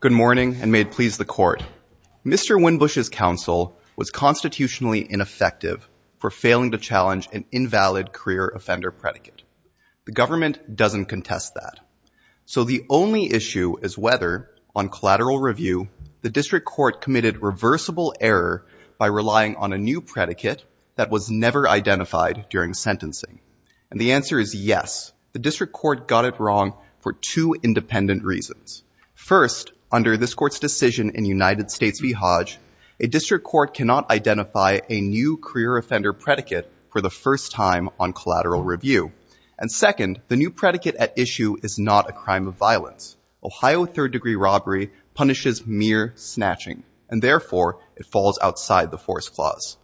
Good morning, and may it please the Court. Mr. Winbush's counsel was constitutionally ineffective for failing to challenge an invalid career offender predicate. The government doesn't contest that. So the only issue is whether, on collateral review, the District Court committed reversible error by relying on a new predicate that was never identified during sentencing. And the answer is yes. The District Court got it wrong for two independent reasons. First, under this Court's decision in United States v. Hodge, a District Court cannot identify a new career offender predicate for the first time on collateral review. And second, the new predicate at issue is not a crime of violence. Ohio third-degree robbery punishes mere snatching, and therefore it falls outside the force clause.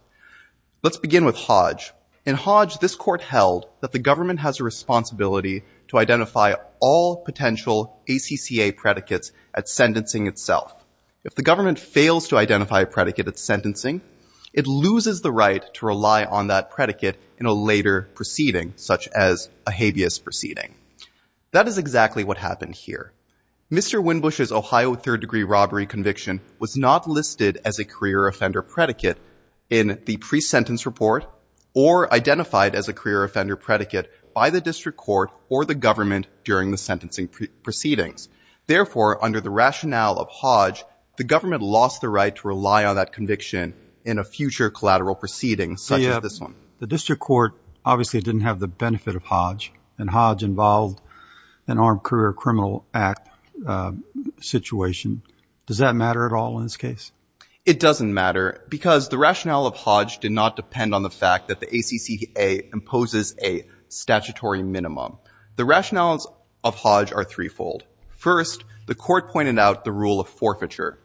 Let's begin with Hodge. In Hodge, this Court held that the government has a responsibility to identify all potential ACCA predicates at sentencing itself. If the government fails to identify a predicate at sentencing, it loses the right to rely on that predicate in a later proceeding, such as a habeas proceeding. That is exactly what happened here. Mr. Winbush's Ohio third-degree robbery conviction was not listed as a career offender predicate in the pre-sentence report or identified as a career offender predicate by the District Court or the government during the sentencing proceedings. Therefore, under the rationale of Hodge, the government lost the right to rely on that conviction in a future collateral proceeding, such as this one. The District Court obviously didn't have the benefit of Hodge, and Hodge involved an Armed Does that matter at all in this case? It doesn't matter because the rationale of Hodge did not depend on the fact that the ACCA imposes a statutory minimum. The rationales of Hodge are threefold. First, the Court pointed out the rule of forfeiture,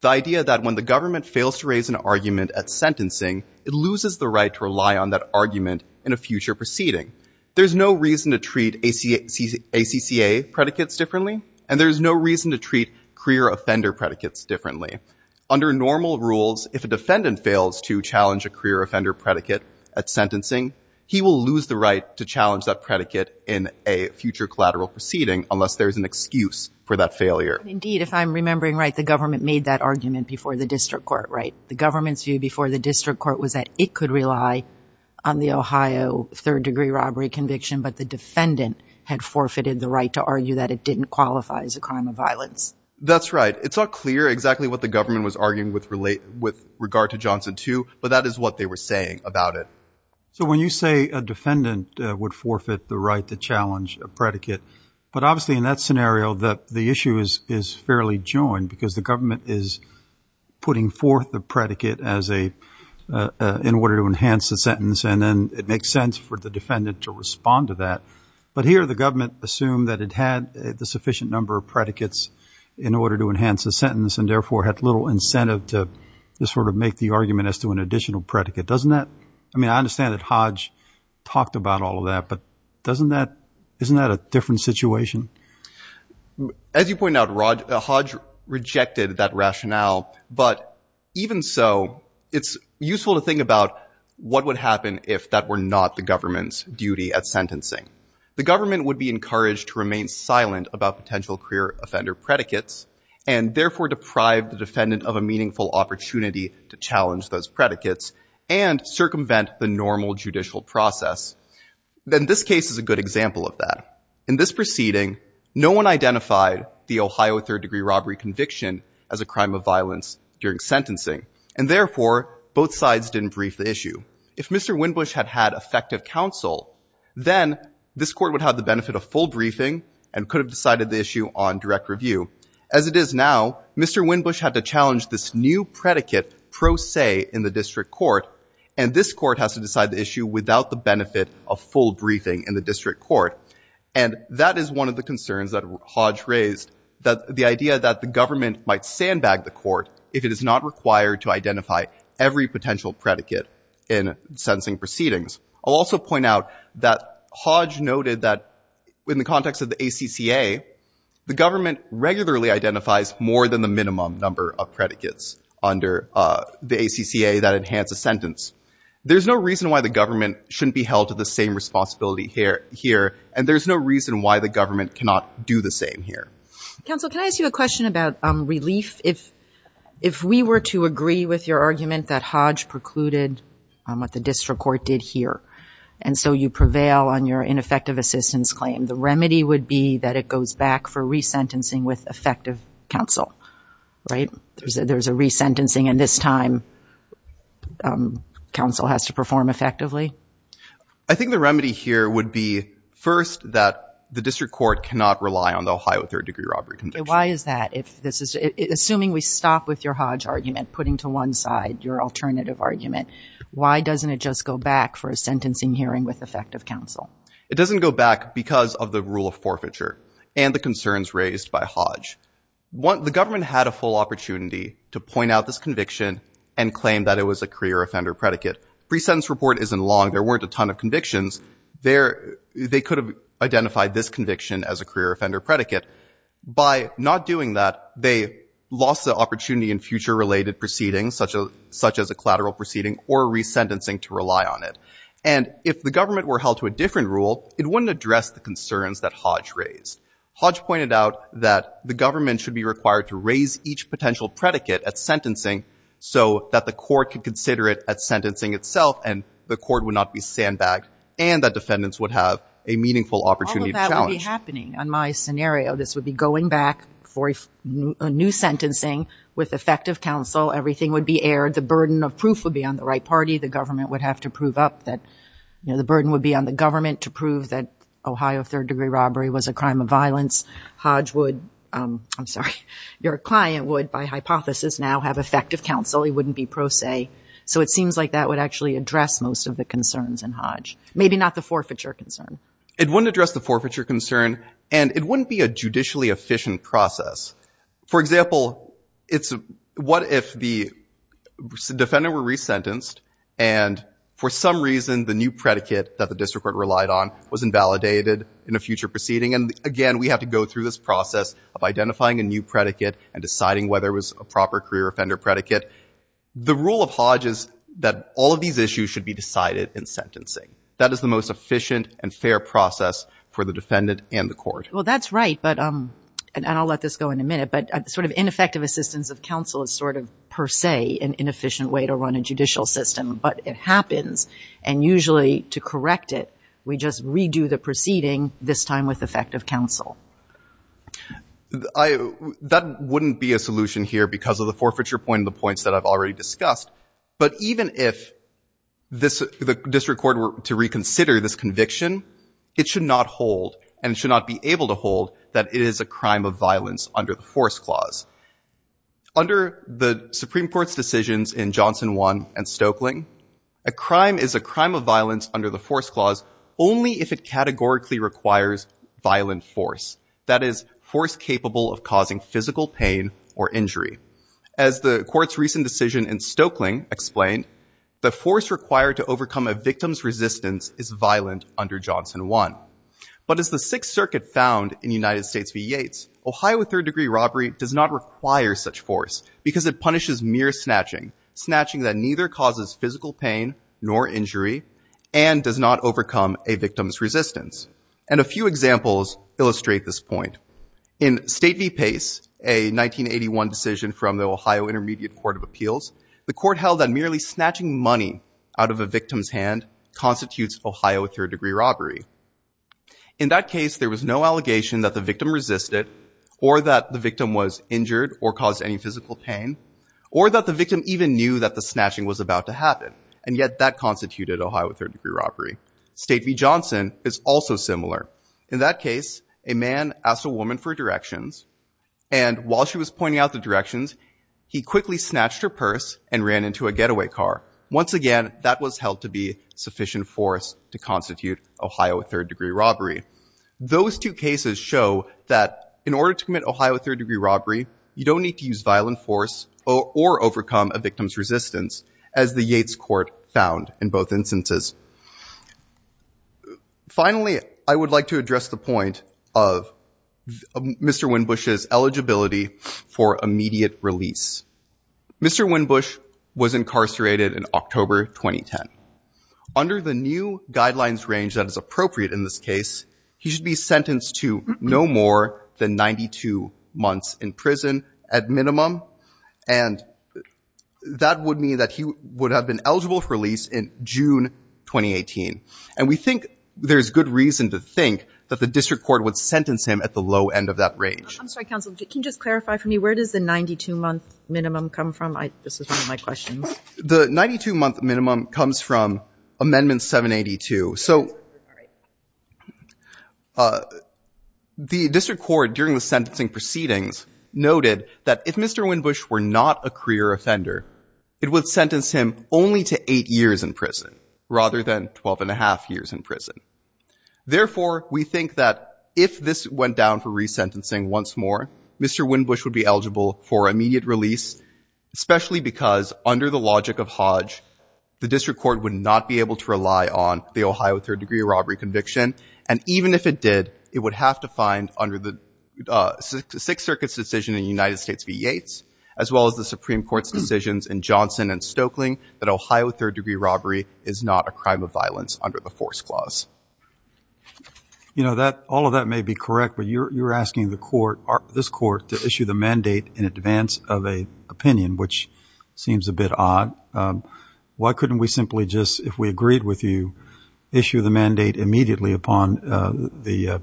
the idea that when the government fails to raise an argument at sentencing, it loses the right to rely on that argument in a future proceeding. There's no reason to treat ACCA predicates differently, and there's no reason to treat career offender predicates differently. Under normal rules, if a defendant fails to challenge a career offender predicate at sentencing, he will lose the right to challenge that predicate in a future collateral proceeding unless there's an excuse for that failure. Indeed, if I'm remembering right, the government made that argument before the District Court, right? The government's view before the District Court was that it could rely on the Ohio third degree robbery conviction, but the defendant had forfeited the right to argue that it didn't qualify as a crime of violence. That's right. It's not clear exactly what the government was arguing with regard to Johnson too, but that is what they were saying about it. So when you say a defendant would forfeit the right to challenge a predicate, but obviously in that scenario, the issue is fairly joined because the government is putting forth the predicate in order to enhance the sentence, and then it makes sense for the defendant to respond to that. But here, the government assumed that it had the sufficient number of predicates in order to enhance the sentence and therefore had little incentive to sort of make the argument as to an additional predicate. Doesn't that, I mean, I understand that Hodge talked about all of that, but doesn't that, isn't that a different situation? As you point out, Rod, Hodge rejected that rationale, but even so, it's useful to think about what would happen if that were not the government's duty at sentencing. The government would be encouraged to remain silent about potential career offender predicates and therefore deprive the defendant of a meaningful opportunity to challenge those predicates and circumvent the normal judicial process. Then this case is a good example of that. In this proceeding, no one identified the Ohio third-degree robbery conviction as a crime of violence during sentencing, and therefore both sides didn't brief the issue. If Mr. Winbush had had effective counsel, then this would have been a full briefing and could have decided the issue on direct review. As it is now, Mr. Winbush had to challenge this new predicate pro se in the district court, and this court has to decide the issue without the benefit of full briefing in the district court. And that is one of the concerns that Hodge raised, that the idea that the government might sandbag the court if it is not required to identify every potential predicate in sentencing proceedings. I'll also point out that Hodge noted that in the context of the ACCA, the government regularly identifies more than the minimum number of predicates under the ACCA that enhance a sentence. There's no reason why the government shouldn't be held to the same responsibility here, and there's no reason why the government cannot do the same here. Counsel, can I ask you a question about relief? If we were to agree with your argument that and so you prevail on your ineffective assistance claim, the remedy would be that it goes back for resentencing with effective counsel, right? There's a resentencing, and this time, counsel has to perform effectively? I think the remedy here would be, first, that the district court cannot rely on the Ohio third-degree robbery conviction. Why is that? Assuming we stop with your Hodge argument, putting to one side your alternative argument, why doesn't it just go back for a sentencing hearing with effective counsel? It doesn't go back because of the rule of forfeiture and the concerns raised by Hodge. The government had a full opportunity to point out this conviction and claim that it was a career offender predicate. Pre-sentence report isn't long. There weren't a ton of convictions. They could have identified this conviction as a career offender predicate. By not doing that, they lost the opportunity in future related proceedings such as a collateral proceeding or resentencing to rely on it. And if the government were held to a different rule, it wouldn't address the concerns that Hodge raised. Hodge pointed out that the government should be required to raise each potential predicate at sentencing so that the court could consider it at sentencing itself and the court would not be sandbagged and that defendants would have a meaningful opportunity to challenge. All of that would be happening. On my scenario, this would be going back for a new sentencing with effective counsel. Everything would be aired. The burden of proof would be on the right party. The government would have to prove up that, you know, the burden would be on the government to prove that Ohio third degree robbery was a crime of violence. Hodge would, I'm sorry, your client would by hypothesis now have effective counsel. He wouldn't be pro se. So it seems like that would actually address most of the concerns in Hodge. Maybe not the forfeiture concern. It wouldn't address the forfeiture concern and it wouldn't be a judicially efficient process. For example, it's what if the defendant were resentenced and for some reason the new predicate that the district court relied on was invalidated in a future proceeding. And again, we have to go through this process of identifying a new predicate and deciding whether it was a proper career offender predicate. The rule of Hodge is that all of these issues should be decided in sentencing. That is the most efficient and fair process for the defendant and the court. Well, that's right. But, and I'll let this go in a minute, but sort of ineffective assistance of counsel is sort of per se an inefficient way to run a judicial system, but it happens. And usually to correct it, we just redo the proceeding this time with effective counsel. That wouldn't be a solution here because of the forfeiture point and the points that I've already discussed. But even if this, the district court were to reconsider this conviction, it should not hold and should not be able to hold that it is a crime of violence under the force clause. Under the Supreme Court's decisions in Johnson 1 and Stokeling, a crime is a crime of violence under the force clause only if it categorically requires violent force. That is force capable of causing physical pain or injury. As the court's recent decision in Stokeling explained, the force required to overcome a victim's resistance is violent under Johnson 1. But as the Sixth Circuit found in United States v. Yates, Ohio third degree robbery does not require such force because it punishes mere snatching, snatching that neither causes physical pain nor injury and does not overcome a victim's resistance. And a few examples illustrate this point. In State v. Pace, a 1981 decision from the Ohio Intermediate Court of Appeals, the court held that merely snatching money out of a third degree robbery. In that case, there was no allegation that the victim resisted or that the victim was injured or caused any physical pain or that the victim even knew that the snatching was about to happen. And yet, that constituted Ohio third degree robbery. State v. Johnson is also similar. In that case, a man asked a woman for directions. And while she was pointing out the directions, he quickly snatched her purse and ran into a getaway car. Once again, that was held to be sufficient force to constitute Ohio third degree robbery. Those two cases show that in order to commit Ohio third degree robbery, you don't need to use violent force or overcome a victim's resistance as the Yates court found in both instances. Finally, I would like to address the point of Mr. Winbush's eligibility for immediate release. Mr. Winbush was incarcerated in October 2010. Under the new guidelines range that is appropriate in this case, he should be sentenced to no more than 92 months in prison at minimum. And that would mean that he would have been eligible for release in June 2018. And we think there's good reason to think that the district court would sentence him at the low end of that range. I'm sorry, counsel. Can you just clarify for me where does the 92-month minimum come from? This is one of my questions. The 92-month minimum comes from Amendment 782. So the district court during the sentencing proceedings noted that if Mr. Winbush were not a career offender, it would sentence him only to eight years in prison rather than 12 and a half years in prison. Therefore, we think that if this went down for resentencing once more, Mr. Winbush would be eligible for immediate release, especially because under the logic of Hodge, the district court would not be able to rely on the Ohio third-degree robbery conviction. And even if it did, it would have to find under the Sixth Circuit's decision in United States v. Yates, as well as the Supreme Court's decisions in Johnson and Stoeckling, that Ohio third-degree robbery is not a crime of violence under the force clause. You know, all of that may be correct, but you're asking this court to issue the mandate in advance of an opinion, which seems a bit odd. Why couldn't we simply just, if we agreed with you, issue the mandate immediately upon the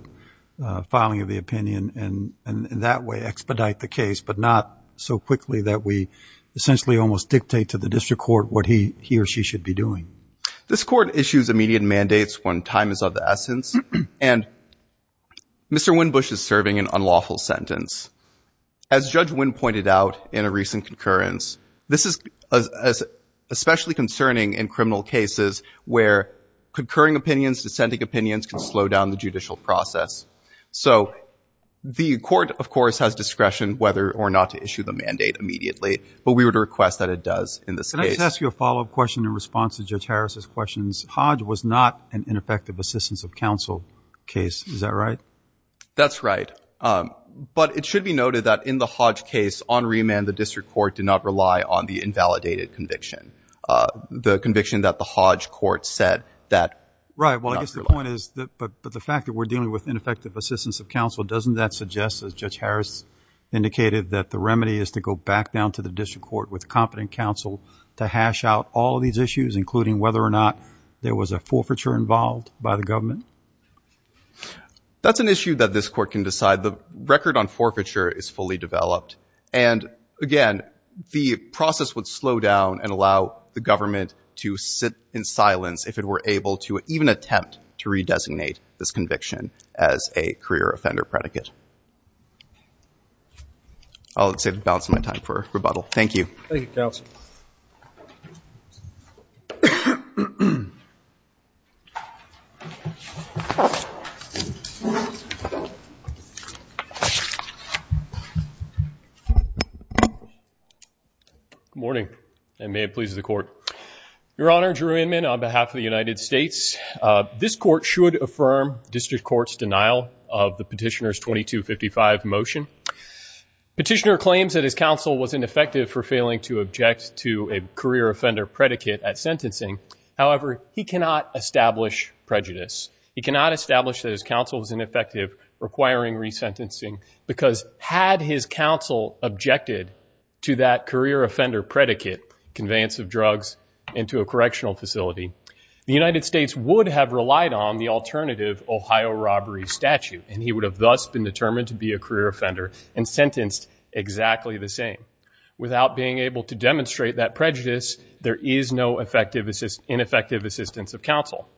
filing of the opinion and that way expedite the case, but not so quickly that we essentially almost dictate to the district court what he or she should be doing? This court issues immediate mandates when time is of the essence, and Mr. Winbush is serving an unlawful sentence. As Judge Winn pointed out in a recent concurrence, this is especially concerning in criminal cases where concurring opinions, dissenting opinions can slow down the judicial process. So the court, of course, has discretion whether or not to issue the mandate immediately, but we would request that it does in this case. Let me just ask you a follow-up question in response to Judge Harris' questions. Hodge was not an ineffective assistance of counsel case. Is that right? That's right. But it should be noted that in the Hodge case, on remand, the district court did not rely on the invalidated conviction, the conviction that the Hodge court said that not relied on. Right. Well, I guess the point is, but the fact that we're dealing with ineffective assistance of counsel, doesn't that suggest, as Judge Harris indicated, that the remedy is to go back down to the district court with competent counsel to hash out all of these issues, including whether or not there was a forfeiture involved by the government? That's an issue that this court can decide. The record on forfeiture is fully developed. And again, the process would slow down and allow the government to sit in silence if it were able to even attempt to redesignate this conviction as a career offender predicate. I'll save the balance of my time for rebuttal. Thank you. Thank you, counsel. Good morning, and may it please the Court. Your Honor, Drew Inman, on behalf of the United States, this Court should affirm district court's denial of the petitioner's 2255 motion. Petitioner claims that his counsel was ineffective for failing to object to a career offender predicate at sentencing. However, he cannot establish prejudice. He cannot establish that his counsel was ineffective, requiring resentencing, because had his counsel objected to that career offender predicate, conveyance of drugs into a correctional facility, the United States would have relied on the alternative Ohio robbery statute, and he would have thus been determined to be a career offender and sentenced exactly the same. Without being able to demonstrate that prejudice, there is no ineffective assistance of counsel.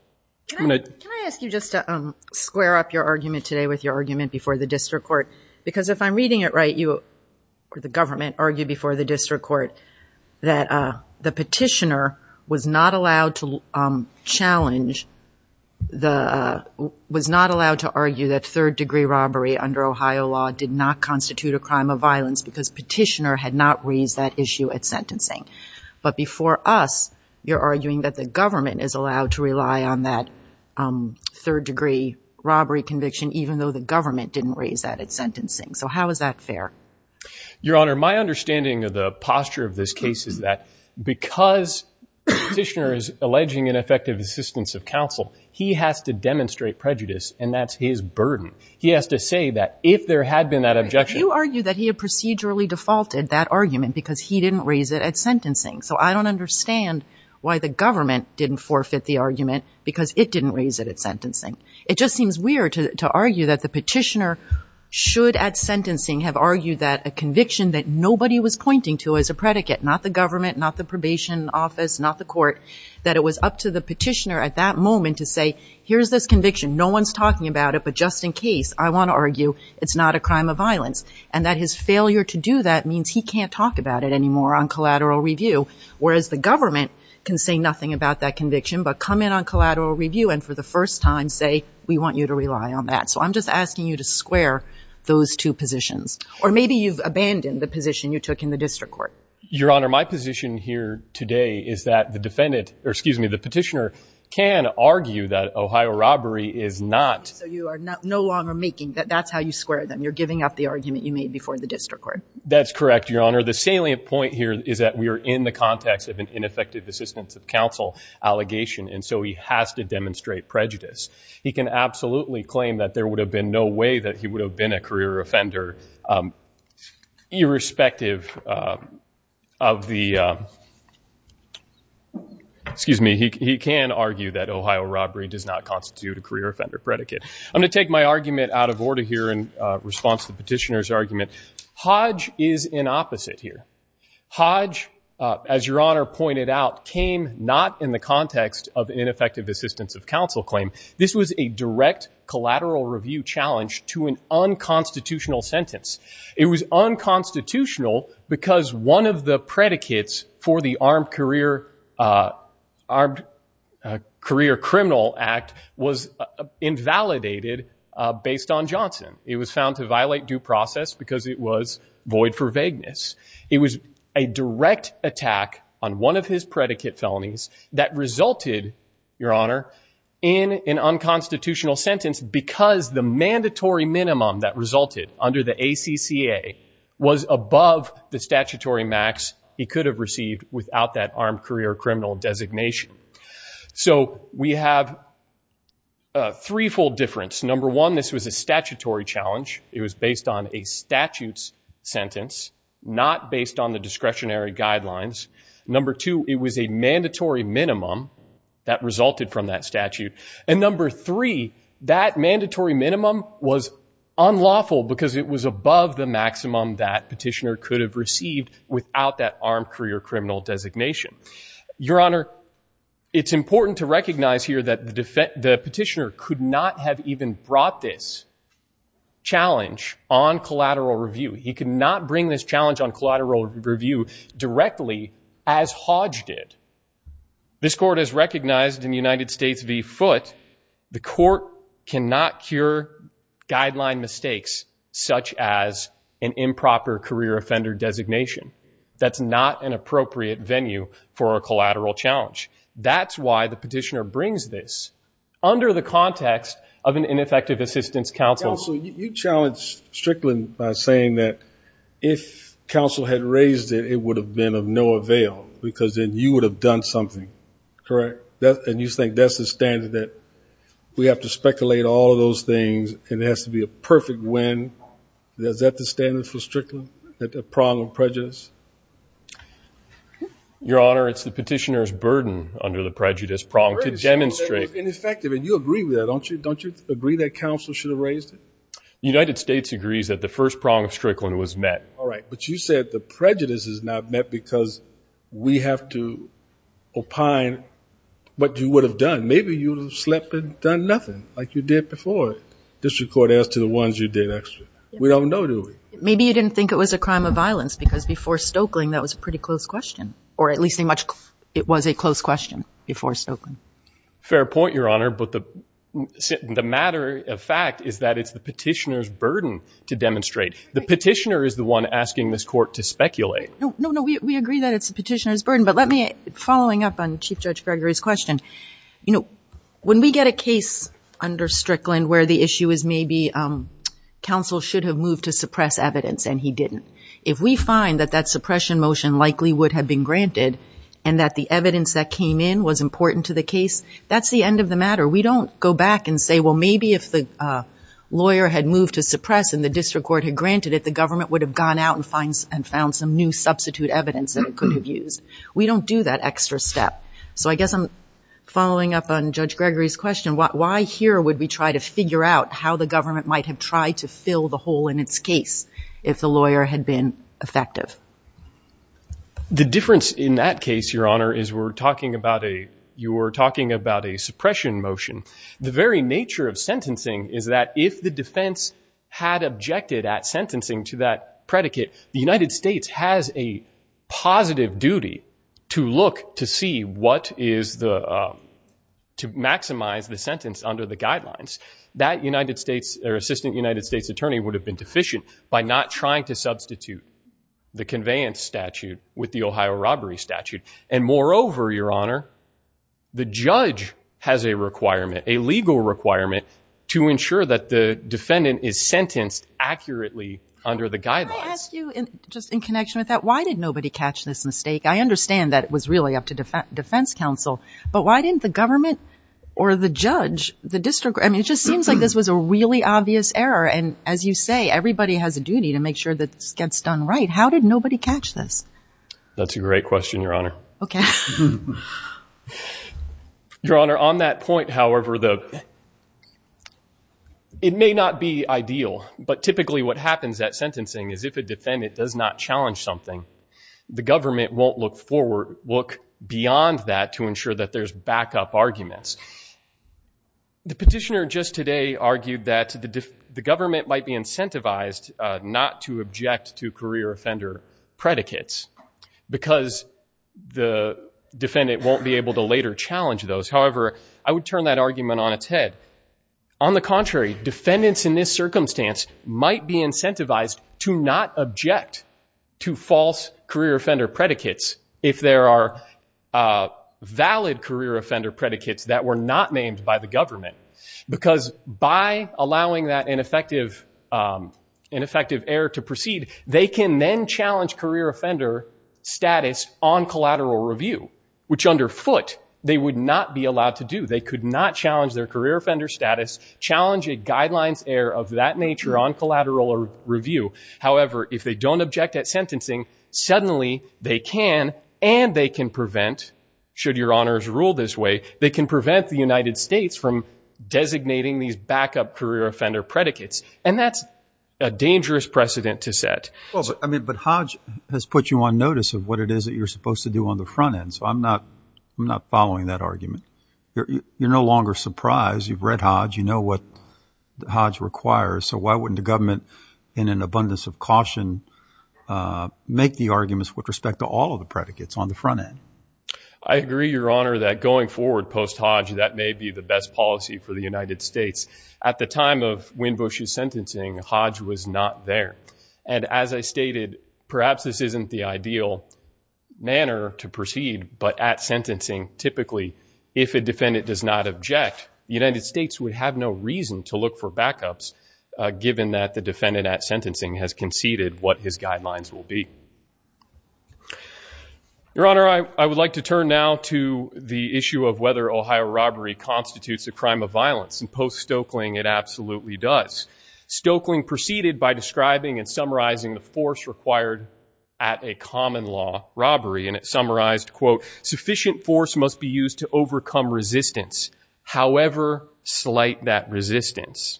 Can I ask you just to square up your argument today with your argument before the district court? Because if I'm reading it right, the government argued before the district court that the petitioner was not allowed to challenge, was not allowed to argue that third-degree robbery under Ohio law did not constitute a crime of violence, because petitioner had not raised that issue at sentencing. But before us, you're arguing that the government is allowed to rely on that third-degree robbery conviction, even though the government didn't raise that at sentencing. So how is that fair? Your Honor, my understanding of the posture of this case is that because petitioner is alleging ineffective assistance of counsel, he has to demonstrate prejudice, and that's his burden. He has to say that if there had been that objection... You argue that he had procedurally defaulted that argument because he didn't raise it at sentencing. So I don't understand why the government didn't forfeit the argument because it didn't raise it at sentencing. It just seems weird to argue that the petitioner should at sentencing have argued that a conviction that nobody was pointing to as a predicate, not the government, not the probation office, not the court, that it was up to the petitioner at that moment to say, here's this conviction. No one's talking about it, but just in case, I want to argue it's not a crime of violence. And that his failure to do that means he can't talk about it anymore on collateral review, whereas the government can say nothing about that conviction, but come in on collateral review and for the first time say, we want you to rely on that. So I'm just asking you to square those two positions. Or maybe you've abandoned the position you took in the district court. Your Honor, my position here today is that the petitioner can argue that Ohio robbery is not... So you are no longer making that that's how you square them. You're giving up the argument you made before the district court. That's correct, Your Honor. The salient point here is that we are in the context of an ineffective assistance of counsel allegation, and so he has to demonstrate prejudice. He can absolutely claim that there would have been no way that he would have been a career offender, irrespective of the, excuse me, he can argue that Ohio robbery does not constitute a career offender predicate. I'm going to take my argument out of order here in response to the petitioner's argument. Hodge is in opposite here. Hodge, as Your Honor pointed out, came not in the context of ineffective assistance of counsel claim. This was a direct collateral review challenge to an unconstitutional sentence. It was unconstitutional because one of the predicates for the Armed Career Criminal Act was invalidated based on Johnson. It was found to violate due process because it was void for vagueness. It was a direct attack on one of his predicate felonies that resulted, Your Honor, in an unconstitutional sentence because the mandatory minimum that resulted under the ACCA was above the statutory max he could have received without that armed career criminal designation. So we have a threefold difference. Number one, this was a statutory challenge. It was based on a statute's sentence, not based on the discretionary guidelines. Number two, it was a mandatory minimum that resulted from that statute. And number three, that mandatory minimum was unlawful because it was above the maximum that petitioner could have received without that armed career criminal designation. Your Honor, it's important to recognize here that the petitioner could not have even brought this challenge on collateral review. He could not bring this challenge on collateral review directly as Hodge did. This court has recognized in the United States v. Foote, the court cannot cure guideline mistakes such as an improper career offender designation. That's not an appropriate venue for a collateral challenge. That's why the petitioner brings this under the context of an ineffective assistance counsel. Counsel, you challenged Strickland by saying that if counsel had raised it, it would have been of no avail because then you would have done something. Correct? And you think that's the standard that we have to speculate all of those things and it has to be a perfect win. Is that the standard for Strickland, that the prong of prejudice? Your Honor, it's the petitioner's burden under the prejudice prong to demonstrate. Ineffective. And you agree with that, don't you? Don't you agree that counsel should have raised it? The United States agrees that the first prong of Strickland was met. All right. But you said the prejudice is not met because we have to opine what you would have done. Maybe you would have slept and done nothing like you did before. District Court asked to the ones you did extra. We don't know, do we? Maybe you didn't think it was a crime of violence because before Stokeling, that was a pretty close question. Or at least it was a close question before Stokeling. Fair point, Your Honor. But the matter of fact is that it's the petitioner's burden to demonstrate. The petitioner is the one asking this court to speculate. No, no, no. We agree that it's the petitioner's burden. But let me, following up on Chief Judge Gregory's question, you know, when we get a case under Strickland where the issue is maybe counsel should have moved to suppress evidence and he didn't. If we find that that suppression motion likely would have been granted and that the evidence that came in was important to the case, that's the end of the matter. We don't go back and say, well, maybe if the lawyer had moved to suppress and the district court had granted it, the government would have gone out and found some new substitute evidence that it could have used. We don't do that extra step. So I guess I'm following up on Judge Gregory's question. Why here would we try to figure out how the government might have tried to fill the hole in its case if the lawyer had been effective? The difference in that case, Your Honor, is we're talking about a, you were talking about a suppression motion. The very nature of sentencing is that if the defense had objected at sentencing to that predicate, the United States has a positive duty to look to see what is the, to maximize the sentence under the guidelines. That United States or assistant United States attorney would have been deficient by not trying to substitute the conveyance statute with the Ohio robbery statute. Moreover, Your Honor, the judge has a requirement, a legal requirement to ensure that the defendant is sentenced accurately under the guidelines. Can I ask you, just in connection with that, why did nobody catch this mistake? I understand that it was really up to defense counsel, but why didn't the government or the judge, the district, I mean, it just seems like this was a really obvious error. And as you say, everybody has a duty to make sure that this gets done right. How did nobody catch this? That's a great question, Your Honor. Okay. Your Honor, on that point, however, the, it may not be ideal, but typically what happens at sentencing is if a defendant does not challenge something, the government won't look forward, look beyond that to ensure that there's backup arguments. The petitioner just argued that the government might be incentivized not to object to career offender predicates because the defendant won't be able to later challenge those. However, I would turn that argument on its head. On the contrary, defendants in this circumstance might be incentivized to not object to false career offender predicates if there are valid career offender predicates that were not named by the government. Because by allowing that ineffective error to proceed, they can then challenge career offender status on collateral review, which under foot they would not be allowed to do. They could not challenge their career offender status, challenge a guidelines error of that nature on collateral review. However, if they don't object at sentencing, suddenly they can, and they can prevent, should your honors rule this way, they can prevent the United States from designating these backup career offender predicates. And that's a dangerous precedent to set. I mean, but Hodge has put you on notice of what it is that you're supposed to do on the front end. So I'm not, I'm not following that argument. You're no longer surprised. You've read Hodge. You know what Hodge requires. So why wouldn't the government in an abundance of caution make the arguments with respect to all of the predicates on the front end? I agree, your honor, that going forward post Hodge, that may be the best policy for the United States. At the time of Winbush's sentencing, Hodge was not there. And as I stated, perhaps this isn't the ideal manner to proceed. But at sentencing, typically, if a defendant does not object, the United States would have no reason to look for backups, given that the defendant at his guidelines will be your honor. I would like to turn now to the issue of whether Ohio robbery constitutes a crime of violence and post Stokeling. It absolutely does. Stokeling proceeded by describing and summarizing the force required at a common law robbery. And it summarized quote, sufficient force must be used to overcome resistance. However, slight that resistance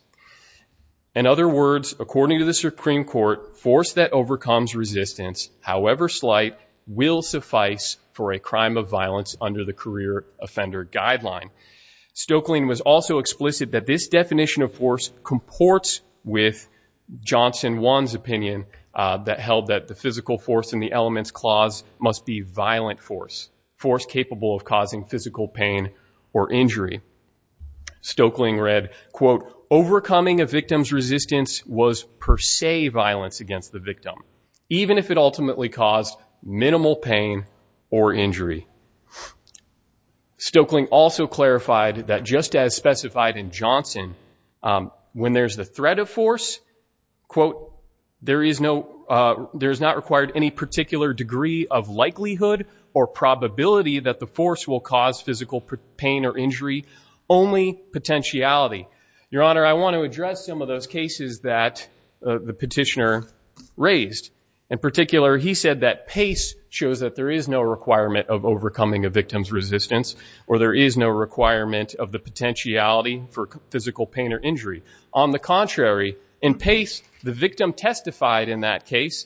in other words, according to the Supreme Court force that overcomes resistance, however slight will suffice for a crime of violence under the career offender guideline. Stokeling was also explicit that this definition of force comports with Johnson one's opinion that held that the physical force in the elements clause must be violent force force capable of causing physical pain or injury. Stokeling read quote, overcoming a victim's resistance was per se violence against the victim, even if it ultimately caused minimal pain or injury. Stokeling also clarified that just as specified in Johnson, when there's the threat of force, quote, there is no there's not required any particular degree of likelihood or probability that the force will cause physical pain or injury only potentiality. Your honor, I want to address some of those cases that the petitioner raised in particular, he said that pace shows that there is no requirement of overcoming a victim's resistance or there is no requirement of the potentiality for physical pain or injury. On the contrary, in pace, the victim testified in that case.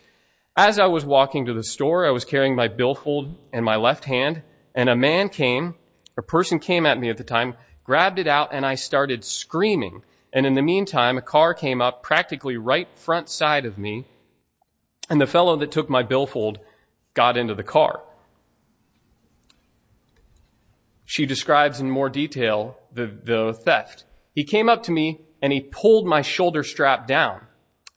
As I was walking to the store, I was carrying my billfold in my left hand and a man came, a person came at me at the time, grabbed it out and I started screaming. And in the meantime, a car came up practically right front side of me and the fellow that took my billfold got into the car. She describes in more detail the theft. He came up to me and he pulled my shoulder strap down.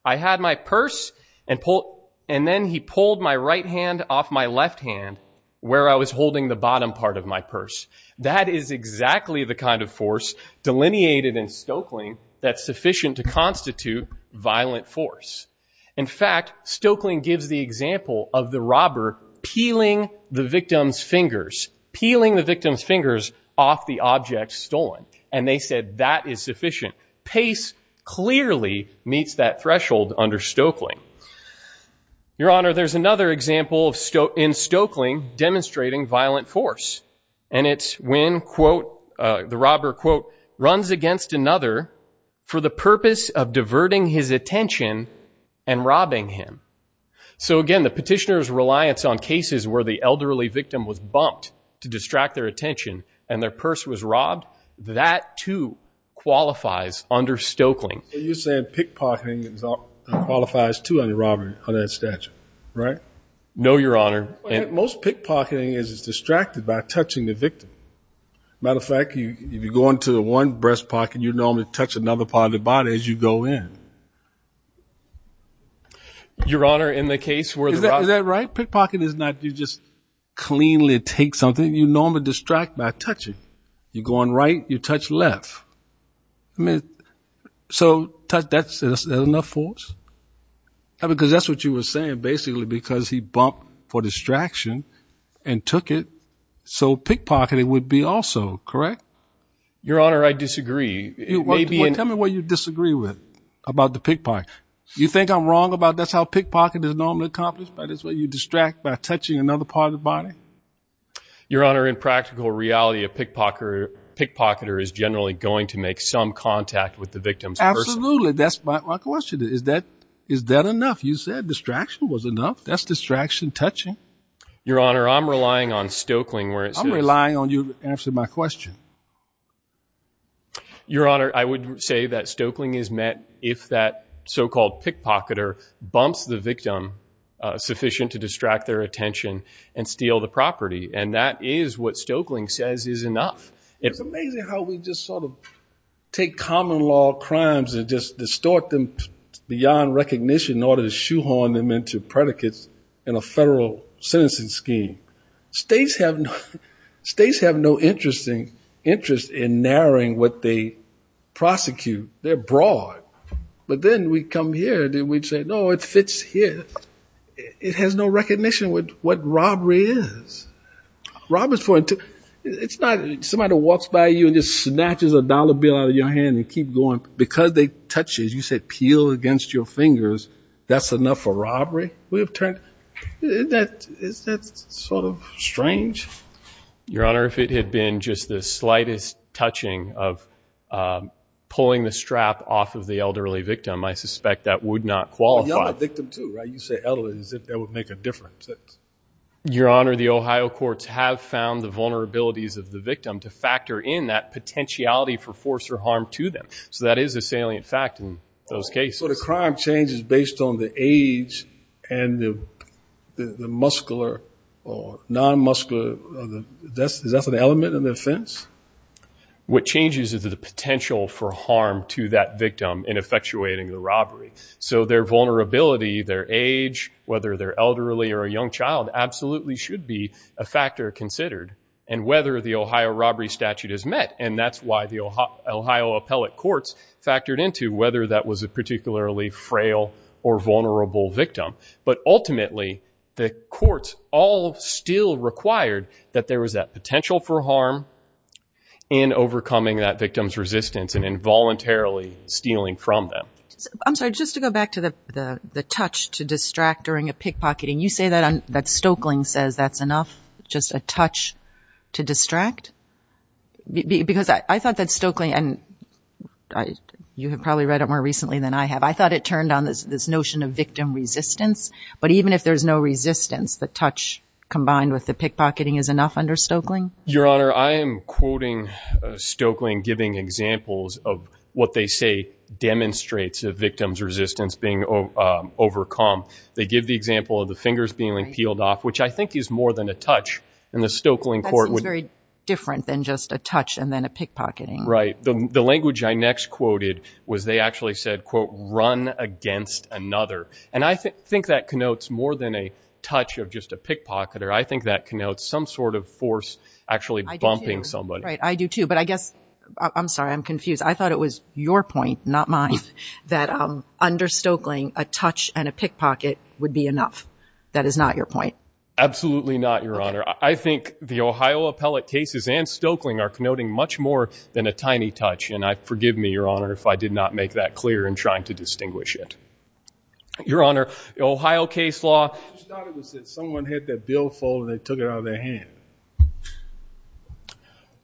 I had my purse and pull and then he pulled my right hand off my left hand where I was holding the bottom part of my purse. That is exactly the kind of force delineated in Stokeling that's sufficient to constitute violent force. In fact, Stokeling gives the example of the robber peeling the victim's fingers, peeling the victim's fingers off the object stolen and they said that is sufficient. Pace clearly meets that threshold under Stokeling. Your Honor, there's another example in Stokeling demonstrating violent force and it's when, quote, the robber, quote, runs against another for the purpose of diverting his attention and robbing him. So again, the cases where the elderly victim was bumped to distract their attention and their purse was robbed, that too qualifies under Stokeling. So you're saying pickpocketing qualifies too under robbery under that statute, right? No, Your Honor. Most pickpocketing is distracted by touching the victim. Matter of fact, if you go into the one breast pocket, you normally touch another part of the body as you go in. Your Honor, in the case where the robber... Is that right? Pickpocketing is not you just cleanly take something. You normally distract by touching. You're going right, you touch left. I mean, so that's enough force? Because that's what you were saying basically because he bumped for distraction and took it. So pickpocketing would be also correct. Your Honor, I disagree. Tell me what you disagree with about the pickpocket. You think I'm wrong about that's how pickpocketing is normally accomplished, but it's what you distract by touching another part of the body? Your Honor, in practical reality, a pickpocketer is generally going to make some contact with the victim's purse. Absolutely. That's my question. Is that enough? You said distraction was enough. That's distraction touching. Your Honor, I'm relying on you to answer my question. Your Honor, I would say that Stoeckling is met if that so-called pickpocketer bumps the victim sufficient to distract their attention and steal the property. And that is what Stoeckling says is enough. It's amazing how we just sort of take common law crimes and just distort them beyond recognition in order to shoehorn them into predicates in a federal sentencing scheme. States have no interest in narrowing what they prosecute. They're broad. But then we come here and we'd say, no, it fits here. It has no recognition with what robbery is. Robbery is for, it's not somebody walks by you and just snatches a dollar bill out of your hand and keep going. Because they touch you, you said peel against your fingers. That's enough for robbery? Is that sort of strange? Your Honor, if it had been just the slightest touching of pulling the strap off of the elderly victim, I suspect that would not qualify. But you're not a victim too, right? You say elderly as if that would make a difference. Your Honor, the Ohio courts have found the vulnerabilities of the victim to factor in that potentiality for force or harm to them. So that is a salient fact in those cases. So the crime change is based on the age and the muscular or non-muscular. Is that an element of the offense? What changes is the potential for harm to that victim in effectuating the robbery. So their vulnerability, their age, whether they're elderly or a young child, absolutely should be a factor considered. And whether the Ohio robbery statute is met. And that's why the Ohio appellate courts factored into whether that was a particularly frail or vulnerable victim. But ultimately, the courts all still required that there was that potential for harm in overcoming that victim's resistance and involuntarily stealing from them. I'm sorry, just to go back to the touch to distract during a pickpocketing. You say that Stoeckling says that's enough, just a touch to distract? Because I thought that Stoeckling and you have probably read it more recently than I have. I thought it turned on this notion of victim resistance. But even if there's no resistance, the touch combined with the pickpocketing is enough under Stoeckling? Your Honor, I am quoting Stoeckling giving examples of what they say demonstrates a victim's resistance being overcome. They give the example of the fingers being peeled off, which I think is more than a touch in the Stoeckling court. That seems very different than just a touch and then a pickpocketing. Right. The language I next quoted was they actually said, quote, run against another. And I think that connotes more than a touch of just a pickpocketer. I think that connotes some sort of force actually bumping somebody. Right. I do too. But I guess, I'm sorry, I'm confused. I thought it was your point, not mine, that under Stoeckling, a touch and a pickpocket would be enough. That is not your point. Absolutely not, Your Honor. I think the Ohio appellate cases and Stoeckling are connoting much more than a tiny touch. And forgive me, Your Honor, if I did not make that clear in trying to distinguish it. Your Honor, Ohio case law. I thought it was that someone hit that bill fold and they took it out of their hand.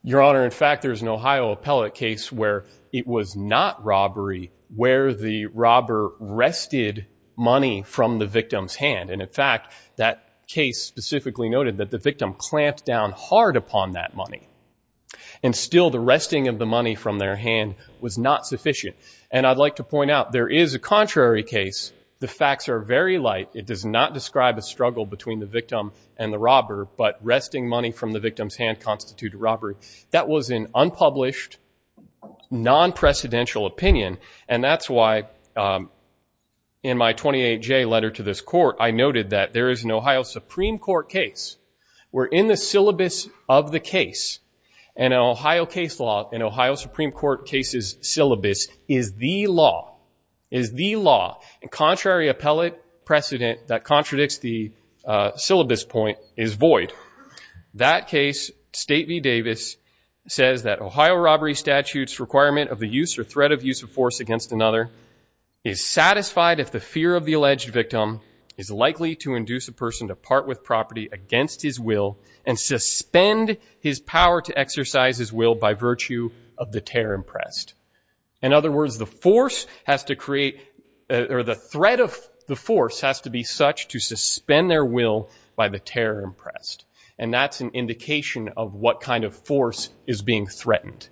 Your Honor, in fact, there's an Ohio appellate case where it was not robbery, where the robber wrested money from the victim's hand. And in fact, that case specifically noted that the victim clamped down hard upon that money. And still the wresting of the money from their hand was not sufficient. And I'd like to point out there is a contrary case. The facts are very light. It does not describe a struggle between the victim and the robber. But wresting money from the victim's hand constituted robbery. That was an unpublished, non-precedential opinion. And that's why in my 28J letter to this court, I noted that there is an Ohio Supreme Court case where in the syllabus of the case, and an Ohio case law, an Ohio Supreme Court case's syllabus is the law, is the law. And contrary appellate precedent that contradicts the syllabus point is void. That case, State v. Davis, says that Ohio robbery statute's requirement of the use or threat of use of force against another is satisfied if the fear of the alleged victim is likely to induce a person to part with property against his will and suspend his power to exercise his will by virtue of the terror impressed. In other words, the force has to create, or the threat of the force has to be such to suspend their will by the terror impressed. And that's an indication of what kind of force is being threatened.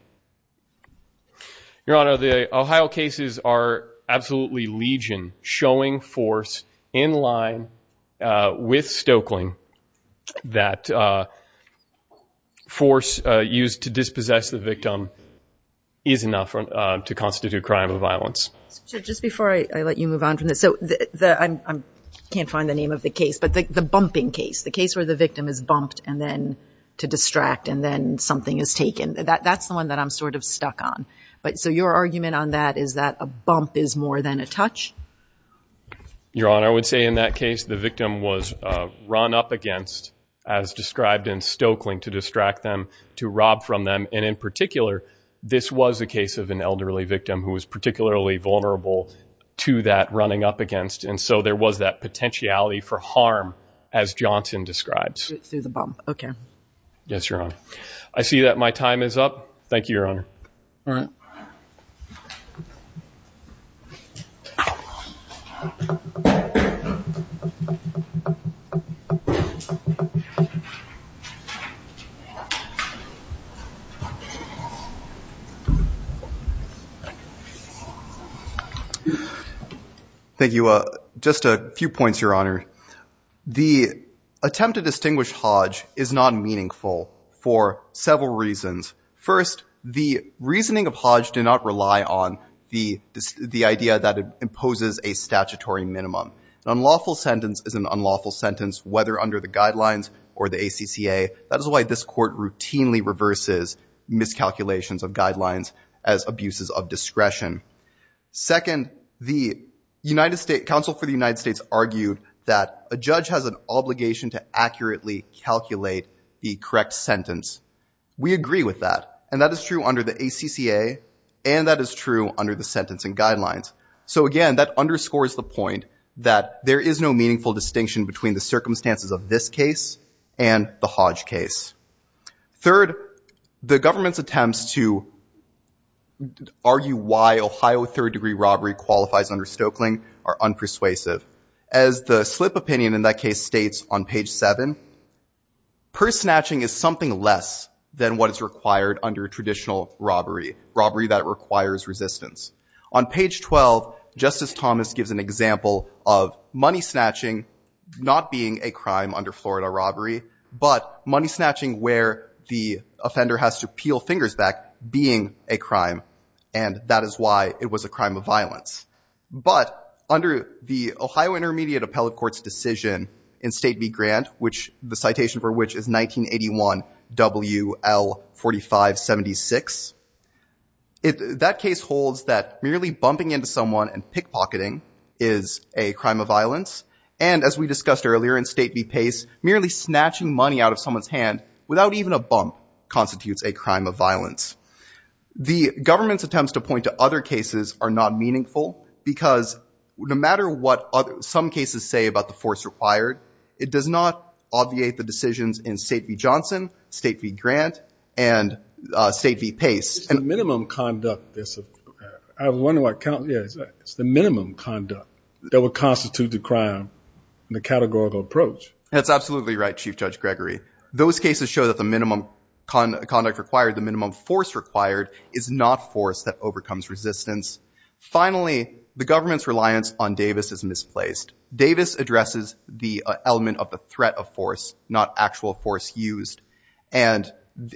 Your Honor, the Ohio cases are absolutely legion, showing force in line with Stoeckling that force used to dispossess the victim is enough to constitute crime of violence. Just before I let you move on from this, I can't find the name of the case, but the bumping case, the case where the victim is bumped and then to distract, and then something is taken, that's the one that I'm sort of stuck on. So your argument on that is that a bump is more than a touch? Your Honor, I would say in that case, the victim was run up against, as described in Stoeckling, to distract them, to rob from them. And in particular, this was a case of an elderly victim who was particularly vulnerable to that running up against. And so there was that potentiality for harm, as Johnson describes. Through the bump. Okay. Yes, Your Honor. I see that my time is up. Thank you, Your Honor. All right. Thank you. Just a few points, Your Honor. The attempt to distinguish Hodge is non-meaningful for several reasons. First, the reasoning of Hodge did not rely on the idea that it imposes a statutory minimum. An unlawful sentence is an unlawful sentence, whether under the guidelines or the ACCA. That is why this court routinely reverses miscalculations of guidelines as abuses of discretion. Second, the Council for the United States argued that a judge has an obligation to accurately calculate the correct sentence. We agree with that. And that is true under the ACCA. And that is true under the sentencing guidelines. So again, that underscores the point that there is no meaningful distinction between the circumstances of this case and the Hodge case. Third, the government's attempts to argue why Ohio third-degree robbery qualifies under Stokeling are unpersuasive. As the slip opinion in that case states on page 7, purse snatching is something less than what is required under traditional robbery, robbery that requires resistance. On page 12, Justice Thomas gives an example of money snatching not being a crime under Florida robbery, but money snatching where the offender has to peel fingers back being a crime. And that is why it was a crime of violence. But under the Ohio Intermediate Appellate Court's decision in State v. Grant, the citation for which is 1981 WL4576, that case holds that merely bumping into someone and pickpocketing is a crime of violence. And as we discussed earlier in State v. Grant, simply snatching money out of someone's hand without even a bump constitutes a crime of violence. The government's attempts to point to other cases are not meaningful because no matter what other some cases say about the force required, it does not obviate the decisions in State v. Johnson, State v. Grant, and State v. Pace. It's the minimum conduct that would constitute the crime and the categorical approach. That's absolutely right, Chief Judge Gregory. Those cases show that the minimum conduct required, the minimum force required, is not force that overcomes resistance. Finally, the government's reliance on Davis is misplaced. Davis addresses the element of the threat of force, not actual force used. And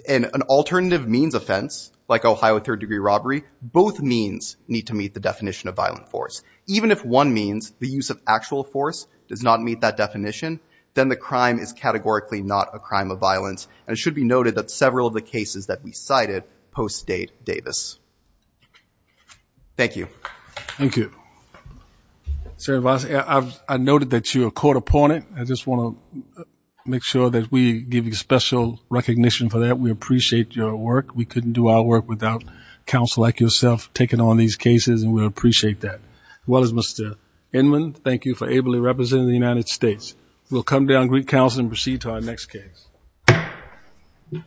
an alternative means offense, like Ohio third degree robbery, both means need to meet the definition of violent force. Even if one means, the use of the force, then the crime is categorically not a crime of violence. And it should be noted that several of the cases that we cited post-State Davis. Thank you. Thank you. Senator Voss, I've noted that you're a court opponent. I just want to make sure that we give you special recognition for that. We appreciate your work. We couldn't do our work without counsel like yourself taking on these cases and we appreciate that. As well as Mr. Inman, thank you for ably representing the United States. We'll come down, greet counsel, and proceed to our next case.